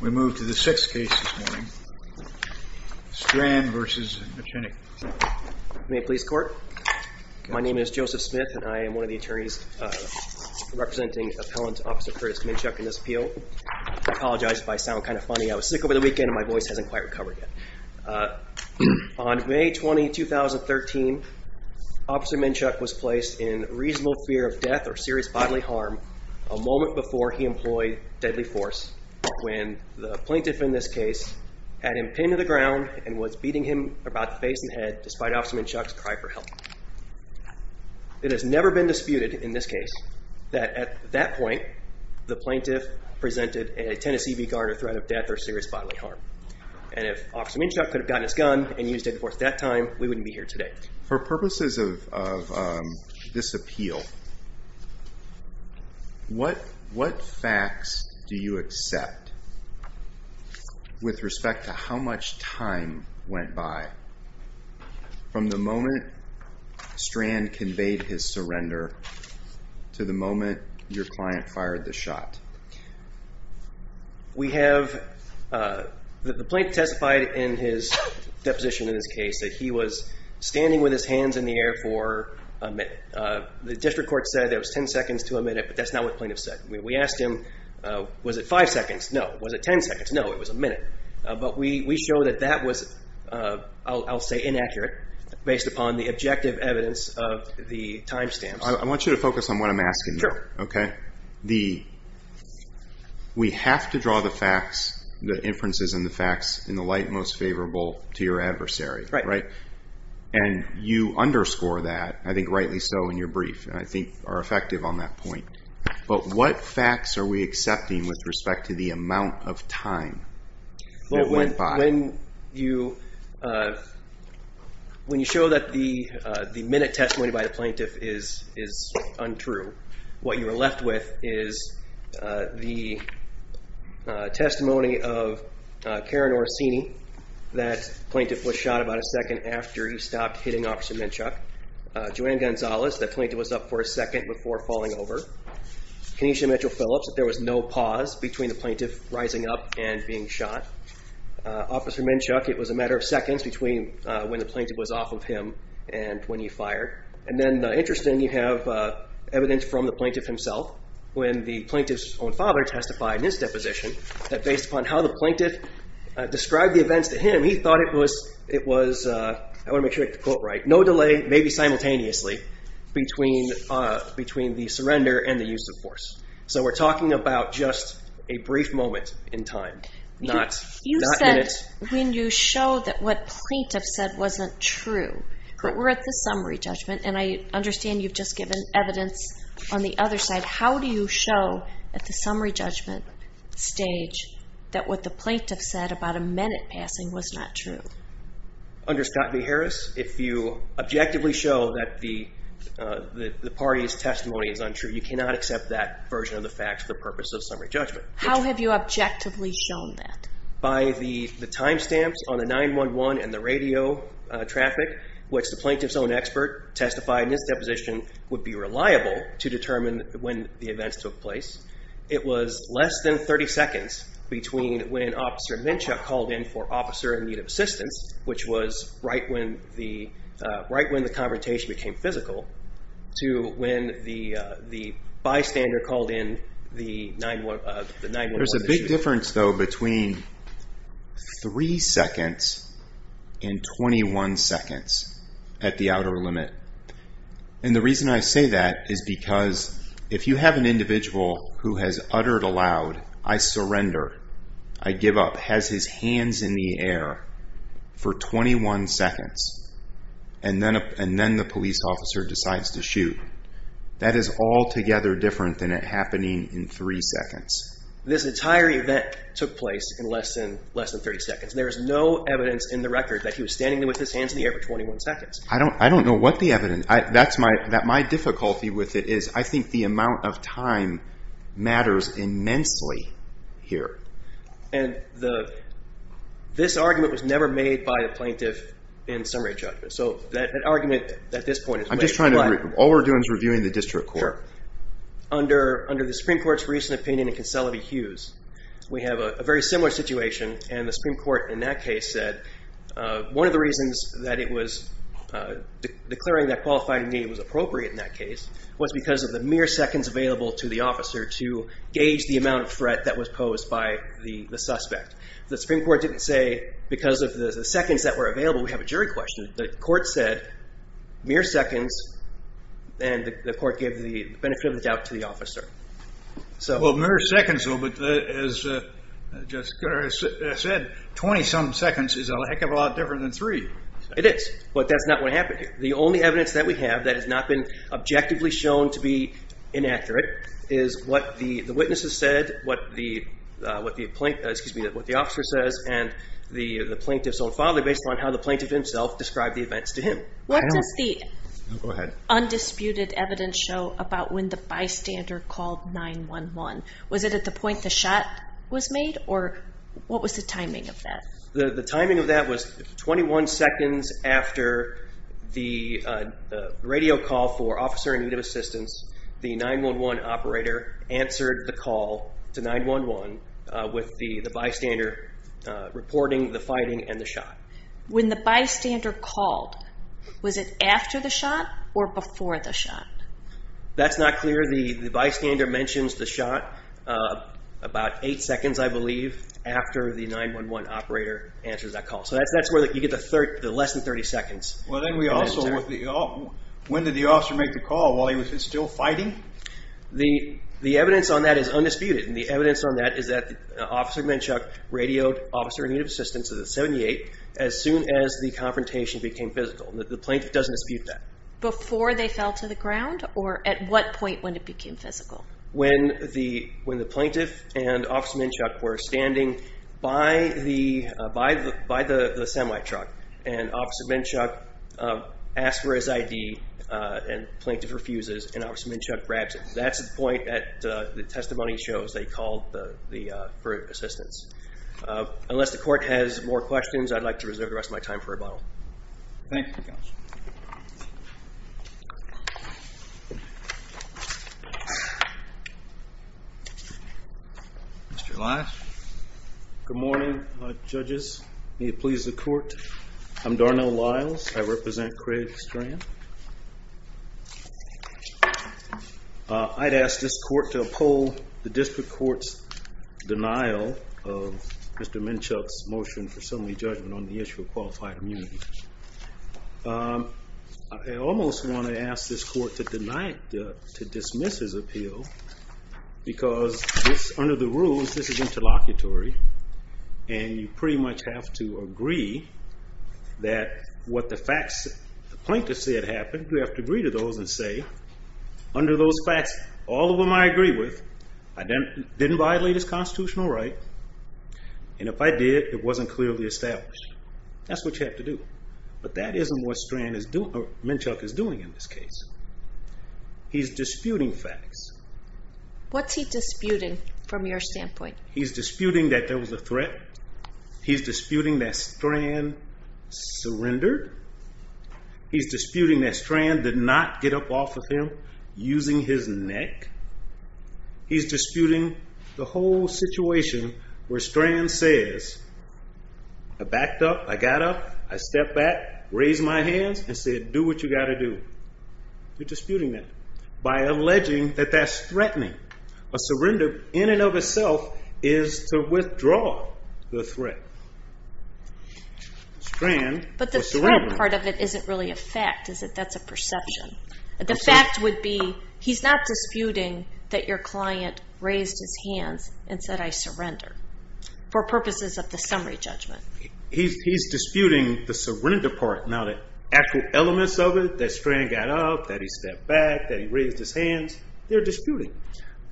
We move to the sixth case this morning. Strand v. McChinney May it please the court. My name is Joseph Smith and I am one of the attorneys representing appellant Officer Curtis Minchuk in this appeal. I apologize if I sound kind of funny. I was sick over the weekend and my voice hasn't quite recovered yet. On May 20, 2013 Officer Minchuk was placed in reasonable fear of death or serious bodily harm a moment before he employed deadly force when the plaintiff in this case had him pinned to the ground and was beating him about the face and head despite Officer Minchuk's cry for help. It has never been disputed in this case that at that point the plaintiff presented a Tennessee v. Gardner threat of death or serious bodily harm. And if Officer Minchuk could have gotten his gun and used it at that time we wouldn't be here today. For purposes of this appeal what facts do you accept with respect to how much time went by from the moment Strand conveyed his surrender to the moment your client fired the shot? The plaintiff testified in his deposition in this case that he was standing with his hands in the air for a minute. The district court said it was 10 seconds to a minute, but that's not what the plaintiff said. We asked him, was it 5 seconds? No. Was it 10 seconds? No. It was a minute. But we show that that was, I'll say inaccurate based upon the objective evidence of the time stamps. I want you to focus on what I'm asking you. Sure. We have to draw the facts, the inferences and the facts in the light most favorable to your adversary. Right. And you underscore that, I think rightly so in your brief and I think are effective on that point. But what facts are we accepting with respect to the amount of time that went by? When you show that the minute testimony by the plaintiff is untrue what you are left with is the testimony of Karen Orsini that the plaintiff was shot about a second after he stopped hitting Officer Minshuk. Joanne Gonzalez, that plaintiff was up for a second before falling over. Kenesha Mitchell-Phillips, that there was no pause between the plaintiff rising up and being shot. Officer Minshuk, it was a matter of seconds between when the plaintiff was off of him and when he fired. And then interestingly you have evidence from the plaintiff himself when the plaintiff's own father testified in his deposition that based upon how the plaintiff described the events to him, he thought it was I want to make sure I get the quote right, no delay, maybe simultaneously between the surrender and the use of force. So we're talking about just a brief moment in time. You said when you show that what plaintiff said wasn't true but we're at the summary judgment and I understand you've just given evidence on the other side. How do you show at the summary judgment stage that what the plaintiff said about a minute passing was not true? Under Scott v. Harris, if you objectively show that the party's testimony is untrue, you cannot accept that version of the fact for the purpose of summary judgment. How have you objectively shown that? By the time stamps on the 911 and the radio traffic, which the plaintiff's own expert testified in his deposition would be reliable to determine when the events took place, it was less than 30 seconds between when Officer Menchuk called in for officer in need of assistance, which was right when the confrontation became physical to when the bystander called in the 911. There's a big difference though between 3 seconds and 21 seconds at the outer limit. And the reason I say that is because if you have an individual who has uttered aloud, I surrender I give up, has his hands in the air for 21 seconds and then the police officer decides to shoot. That is altogether different than it happening in 3 seconds. This entire event took place in less than 30 seconds. There is no evidence in the record that he was standing with his hands in the air for 21 seconds. I don't know what the evidence is. My difficulty with it is I think the amount of time matters immensely here. This argument was never made by the plaintiff in summary judgment. All we're doing is reviewing the district court. Under the Supreme Court's recent opinion in Consolidated Hughes, we have a very similar situation and the Supreme Court in that case said one of the reasons that it was appropriate in that case was because of the mere seconds available to the officer to gauge the amount of threat that was posed by the suspect. The Supreme Court didn't say because of the seconds that were available, we have a jury question. The court said mere seconds and the court gave the benefit of the doubt to the officer. Well mere seconds, but as Jessica said, 20 some seconds is a heck of a lot different than 3. It is, but that's not what happened here. The only evidence that we have that has not been objectively shown to be inaccurate is what the witnesses said, what the officer says and the plaintiff's own father based on how the plaintiff himself described the events to him. What does the undisputed evidence show about when the bystander called 911? Was it at the point the shot was made or what was the timing of that? The timing of that was 21 seconds after the radio call for officer in need of assistance the 911 operator answered the call to 911 with the bystander reporting the fighting and the shot. When the bystander called, was it after the shot or before the shot? That's not clear. The bystander mentions the shot about 8 seconds I believe after the 911 operator answers that call. So that's where you get the less than 30 seconds. When did the officer make the call while he was still fighting? The evidence on that is undisputed and the evidence on that is that Officer Menchuk radioed officer in need of assistance at 78 as soon as the confrontation became physical. The plaintiff doesn't dispute that. Before they fell to the ground or at what point when it became physical? When the plaintiff and Officer Menchuk were standing by the semi truck and Officer Menchuk asked for his ID and the plaintiff refuses and Officer Menchuk grabs it. That's the point that the testimony shows they called for assistance. Unless the court has more questions I'd like to reserve the rest of my time for rebuttal. Thank you. Mr. Lyles. Good morning judges. May it please the court. I'm Darnell Lyles. I represent Craig Strand. I'd ask this court to uphold the district court's denial of Mr. Menchuk's motion for assembly judgment on the issue of qualified immunity. I almost want to ask this court to dismiss his appeal because under the rules this is interlocutory and you pretty much have to agree that what the facts the plaintiff said happened you have to agree to those and say under those facts all of them I agree with I didn't violate his constitutional right and if I did it wasn't clearly established. That's what you have to do. But that isn't what Menchuk is doing in this case. He's disputing facts. What's he disputing from your standpoint? He's disputing that there was a threat. He's disputing that Strand surrendered. He's disputing that Strand did not get up off of him using his neck. He's disputing the whole situation where Strand says I backed up, I got up, I stepped back, raised my hands and said do what you got to do. You're disputing that by alleging that that's threatening. A surrender in and of itself is to withdraw the threat. But the threat part of it isn't really a fact. That's a perception. The fact would be he's not disputing that your client raised his hands and said I surrender for purposes of the summary judgment. He's disputing the surrender part. Now the actual elements of it, that Strand got up, that he stepped back, that he raised his hands, they're disputing.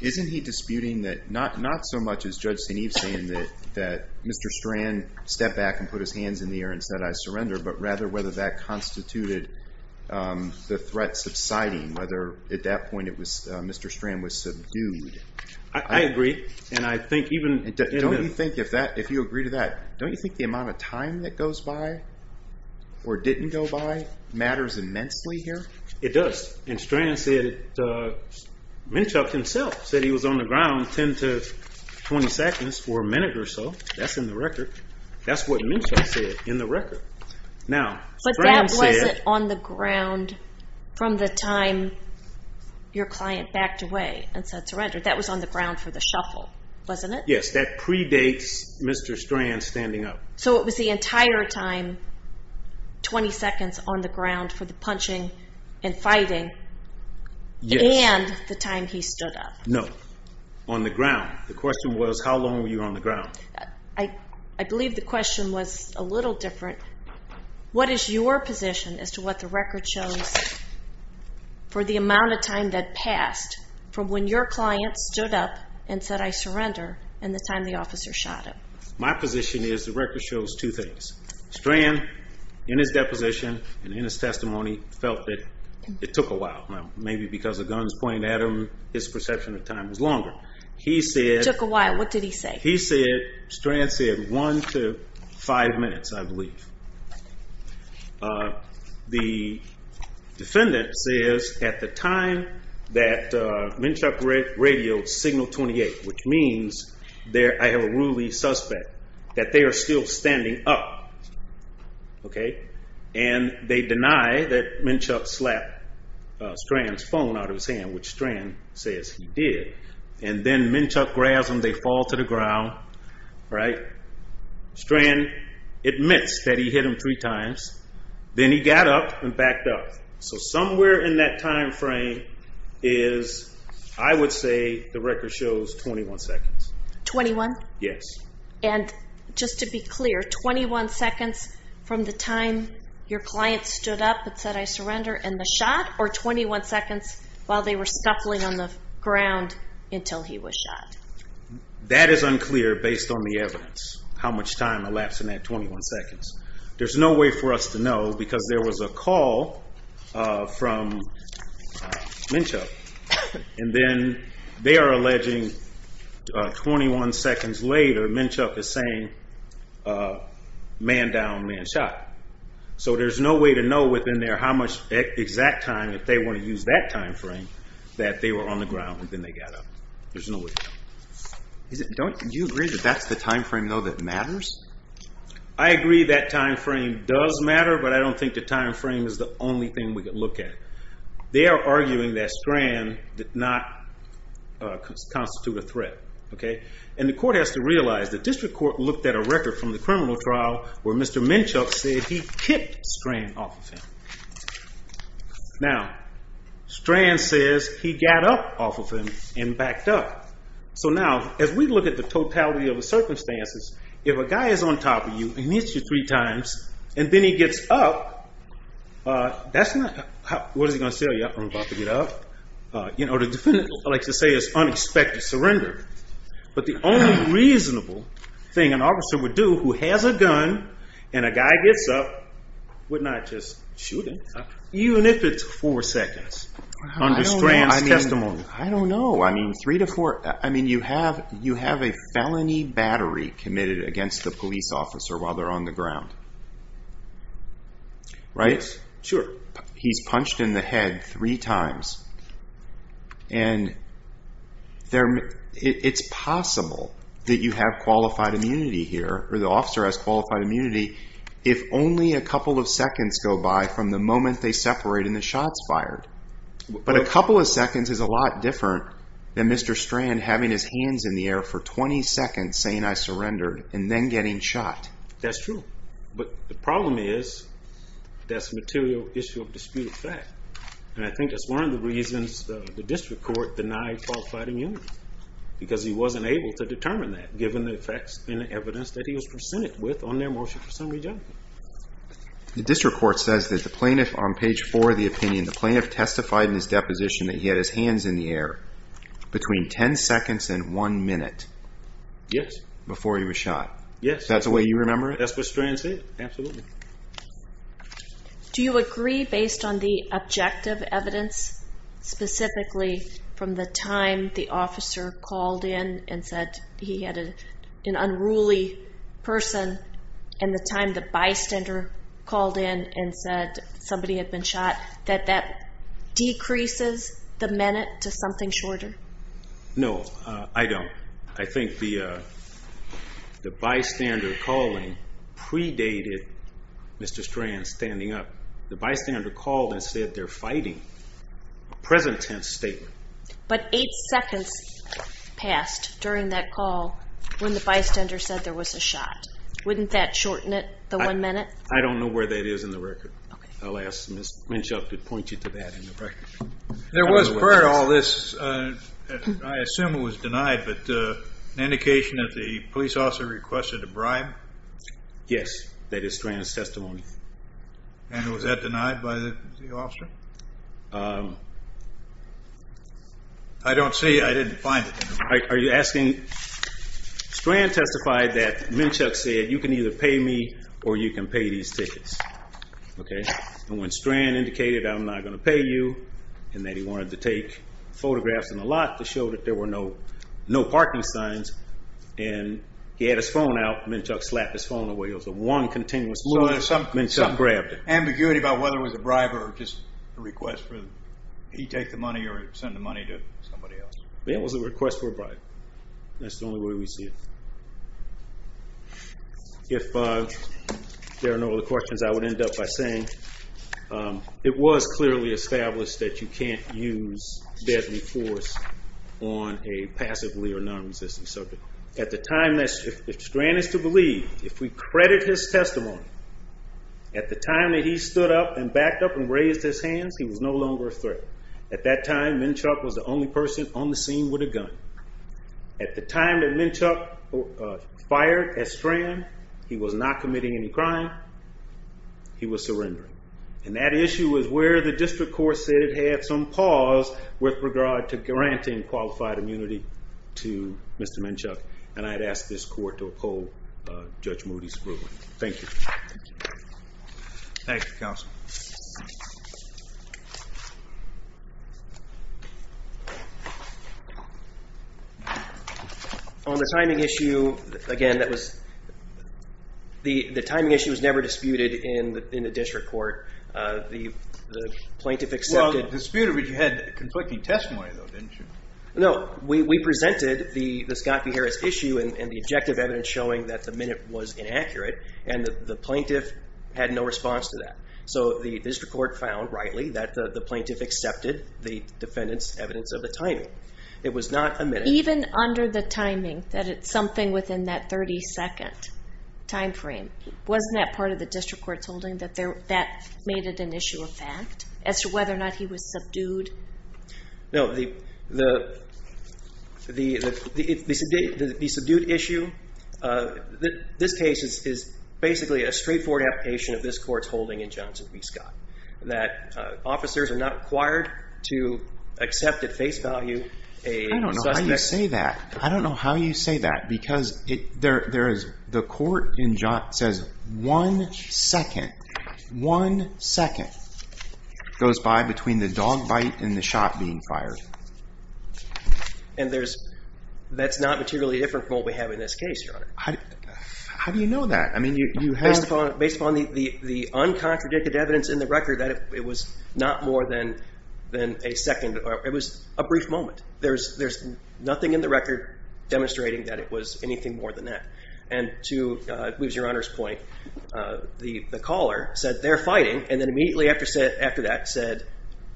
Isn't he disputing that not so much as Judge St. Eve saying that Mr. Strand stepped back and put his hands in the air and said I surrender, but rather whether that constituted the threat subsiding, whether at that point Mr. Strand was subdued. I agree. Don't you think if you agree to that, don't you think the amount of time that goes by or didn't go by matters immensely here? It does. And Strand said, Mnuchuk himself said he was on the ground 10 to 20 seconds or a minute or so. That's in the record. That's what Mnuchuk said in the record. But that wasn't on the ground from the time your client backed away and said surrender. That was on the ground for the shuffle, wasn't it? Yes, that predates Mr. Strand's entire time, 20 seconds on the ground for the punching and fighting and the time he stood up. No, on the ground. The question was how long were you on the ground? I believe the question was a little different. What is your position as to what the record shows for the amount of time that passed from when your client stood up and said I surrender and the time the officer shot him? My position is the record shows two things. Strand, in his deposition and in his testimony, felt that it took a while. Maybe because the guns pointed at him, his perception of time was longer. It took a while. What did he say? Strand said one to five minutes, I believe. The defendant says at the time that Mnuchuk radioed signal 28, which means I have a ruling suspect that they are still standing up. They deny that Mnuchuk slapped Strand's phone out of his hand, which Strand says he did. Then Mnuchuk grabs him. They fall to the ground. Strand admits that he hit him three times. Then he got up and backed up. Somewhere in that time frame is, I would say, the record shows 21 seconds. 21? Yes. Just to be clear, 21 seconds from the time your client stood up and said I surrender and the shot, or 21 seconds while they were scuffling on the ground until he was shot? That is unclear based on the evidence. How much time elapsed in that 21 seconds. There's no way for us to know because there was a call from Mnuchuk and then they are alleging 21 seconds later Mnuchuk is saying man down, man shot. So there's no way to know within there how much exact time, if they want to use that time frame, that they were on the ground and then they got up. There's no way to know. Do you agree that that's the time frame though that matters? I agree that time frame does matter, but I don't think the time frame is the only thing we can look at. They are arguing that Strand did not constitute a threat. And the court has to realize the district court looked at a record from the criminal trial where Mr. Mnuchuk said he kicked Strand off of him. Now Strand says he got up off of him and backed up. So now, as we look at the totality of the circumstances, if a guy is on top of you, he meets you three times, and then he gets up that's not, what is he going to say, I'm about to get up you know the defendant likes to say it's unexpected surrender but the only reasonable thing an officer would do who has a gun and a guy gets up would not just shoot him even if it's four seconds under Strand's testimony. I don't know, I mean three to four, I mean you have a felony battery committed against the police officer while they are on the ground. Right? Sure. He's punched in the head three times and it's possible that you have qualified immunity here, or the officer has qualified immunity, if only a couple of seconds go by from the moment they separate and the shot's fired. But a couple of seconds is a lot different than Mr. Strand having his hands in the air for 20 seconds saying I surrendered and then getting shot. That's true, but the problem is that's a material issue of disputed fact, and I think that's one of the reasons the District Court denied qualified immunity, because he wasn't able to determine that given the facts and the evidence that he was presented with on their motion for summary judgment. The District Court says that the plaintiff on page four of the opinion, the plaintiff testified in his deposition that he had his hands in the air between 10 seconds and one minute. Yes. Before he was shot. Yes. That's the way you remember it? That's what Strand said, absolutely. Do you agree based on the objective evidence, specifically from the time the officer called in and said he had an unruly person and the time the bystander called in and said somebody had been shot, that that decreases the minute to something shorter? No, I don't. I think the bystander calling predated Mr. Strand standing up. The bystander called and said they're fighting. Present tense statement. But eight seconds passed during that call when the bystander said there was a shot. Wouldn't that shorten it, the one minute? I don't know where that is in the record. I'll ask Ms. Minchuk to point you to that in the record. There was prior to all this, I assume it was denied, but an indication that the police officer requested a bribe? Yes, that is Strand's testimony. And was that denied by the officer? I don't see, I didn't find it. Are you asking, Strand testified that Minchuk said you can either pay me or you can pay these tickets. And when Strand indicated I'm not going to pay you and that he wanted to take photographs in the lot to show that there were no parking signs and he had his phone out, Minchuk slapped his phone away. It was a one continuous shot and Minchuk grabbed it. Ambiguity about whether it was a bribe or just a request for he take the money or send the money to somebody else. It was a request for a bribe. That's the only way we see it. If there are no other questions, I would end up by saying it was clearly established that you can't use deadly force on a passively or non-resistant subject. At the time, if Strand is to believe, if we credit his testimony, at the time that he stood up and backed up and raised his hands, he was no longer a threat. At that time, Minchuk was the only person on the scene with a gun. At the time that Minchuk fired at Strand, he was not committing any crime. He was surrendering. And that issue was where the district court said it had some pause with regard to granting qualified immunity to Mr. Minchuk. And I'd ask this court to uphold Judge Moody's ruling. Thank you. Thank you, Counsel. On the timing issue, again, that was the timing issue was never disputed in the district court. The plaintiff accepted... Well, it was disputed, but you had conflicting testimony, though, didn't you? No. We presented the Scott v. Harris issue and the objective evidence showing that the minute was inaccurate, and the plaintiff had no response to that. So the district court found, rightly, that the plaintiff accepted the defendant's evidence of the timing. It was not a minute... Even under the timing, that it's something within that 30-second time frame. Wasn't that part of the district court's holding that that made it an issue of fact as to whether or not he was subdued? No. The subdued issue in this case is basically a straightforward application of this court's holding in Johnson v. Scott, that officers are not required to accept at face value a suspect... I don't know how you say that, because the court says one second goes by between the dog bite and the shot being fired. And that's not materially different from what we have in this case, Your Honor. How do you know that? Based upon the uncontradicted evidence in the record, that it was not more than a second. It was a brief moment. There's nothing in the record demonstrating that it was anything more than that. And to lose Your Honor's point, the caller said they're fighting, and then immediately after that said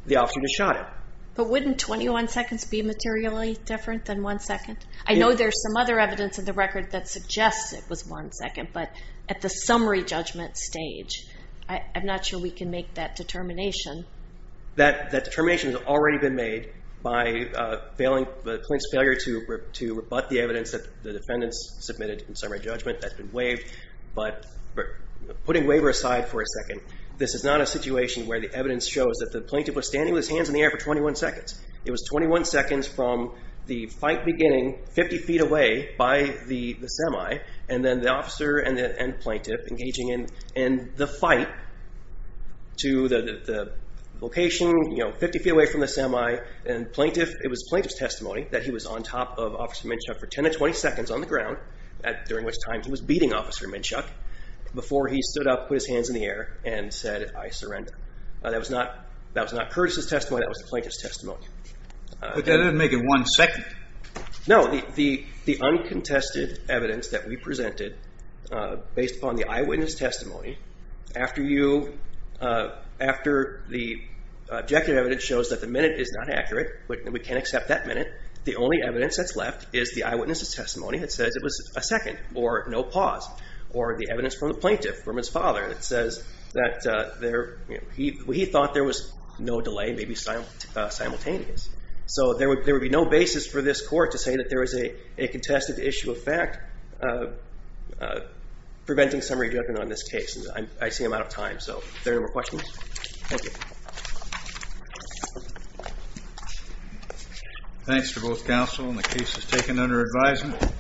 the officer just shot him. But wouldn't 21 seconds be materially different than one second? I know there's some other evidence in the record that suggests it was one second, but at the summary judgment stage, I'm not sure we can make that determination. That determination has already been made by the plaintiff's failure to rebut the evidence that the defendants submitted in summary judgment that's been waived, but putting waiver aside for a second, this is not a situation where the evidence shows that the plaintiff was standing with his hands in the air for 21 seconds. It was 21 seconds from the fight beginning 50 feet away by the semi, and then the officer and plaintiff engaging in the fight to the location 50 feet away from the semi, and it was the plaintiff's testimony that he was on top of Officer Minshuk for 10 to 20 seconds on the ground during which time he was beating Officer Minshuk before he stood up, put his hands in the air, and said, I surrender. That was not Curtis' testimony. That was the plaintiff's testimony. But that doesn't make it one second. No. The uncontested evidence that we presented based upon the eyewitness testimony, after you after the objective evidence shows that the minute is not accurate, but we can accept that minute, the only evidence that's left is the eyewitness's testimony that says it was a second, or no pause, or the evidence from the plaintiff, from his father, that says that he thought there was no delay, maybe simultaneous. So there would be no basis for this court to say that there was a contested issue of fact preventing summary judgment on this case. I see I'm out of time, so if there are no more questions, thank you. Thanks to both counsel, and the case is taken under advisement.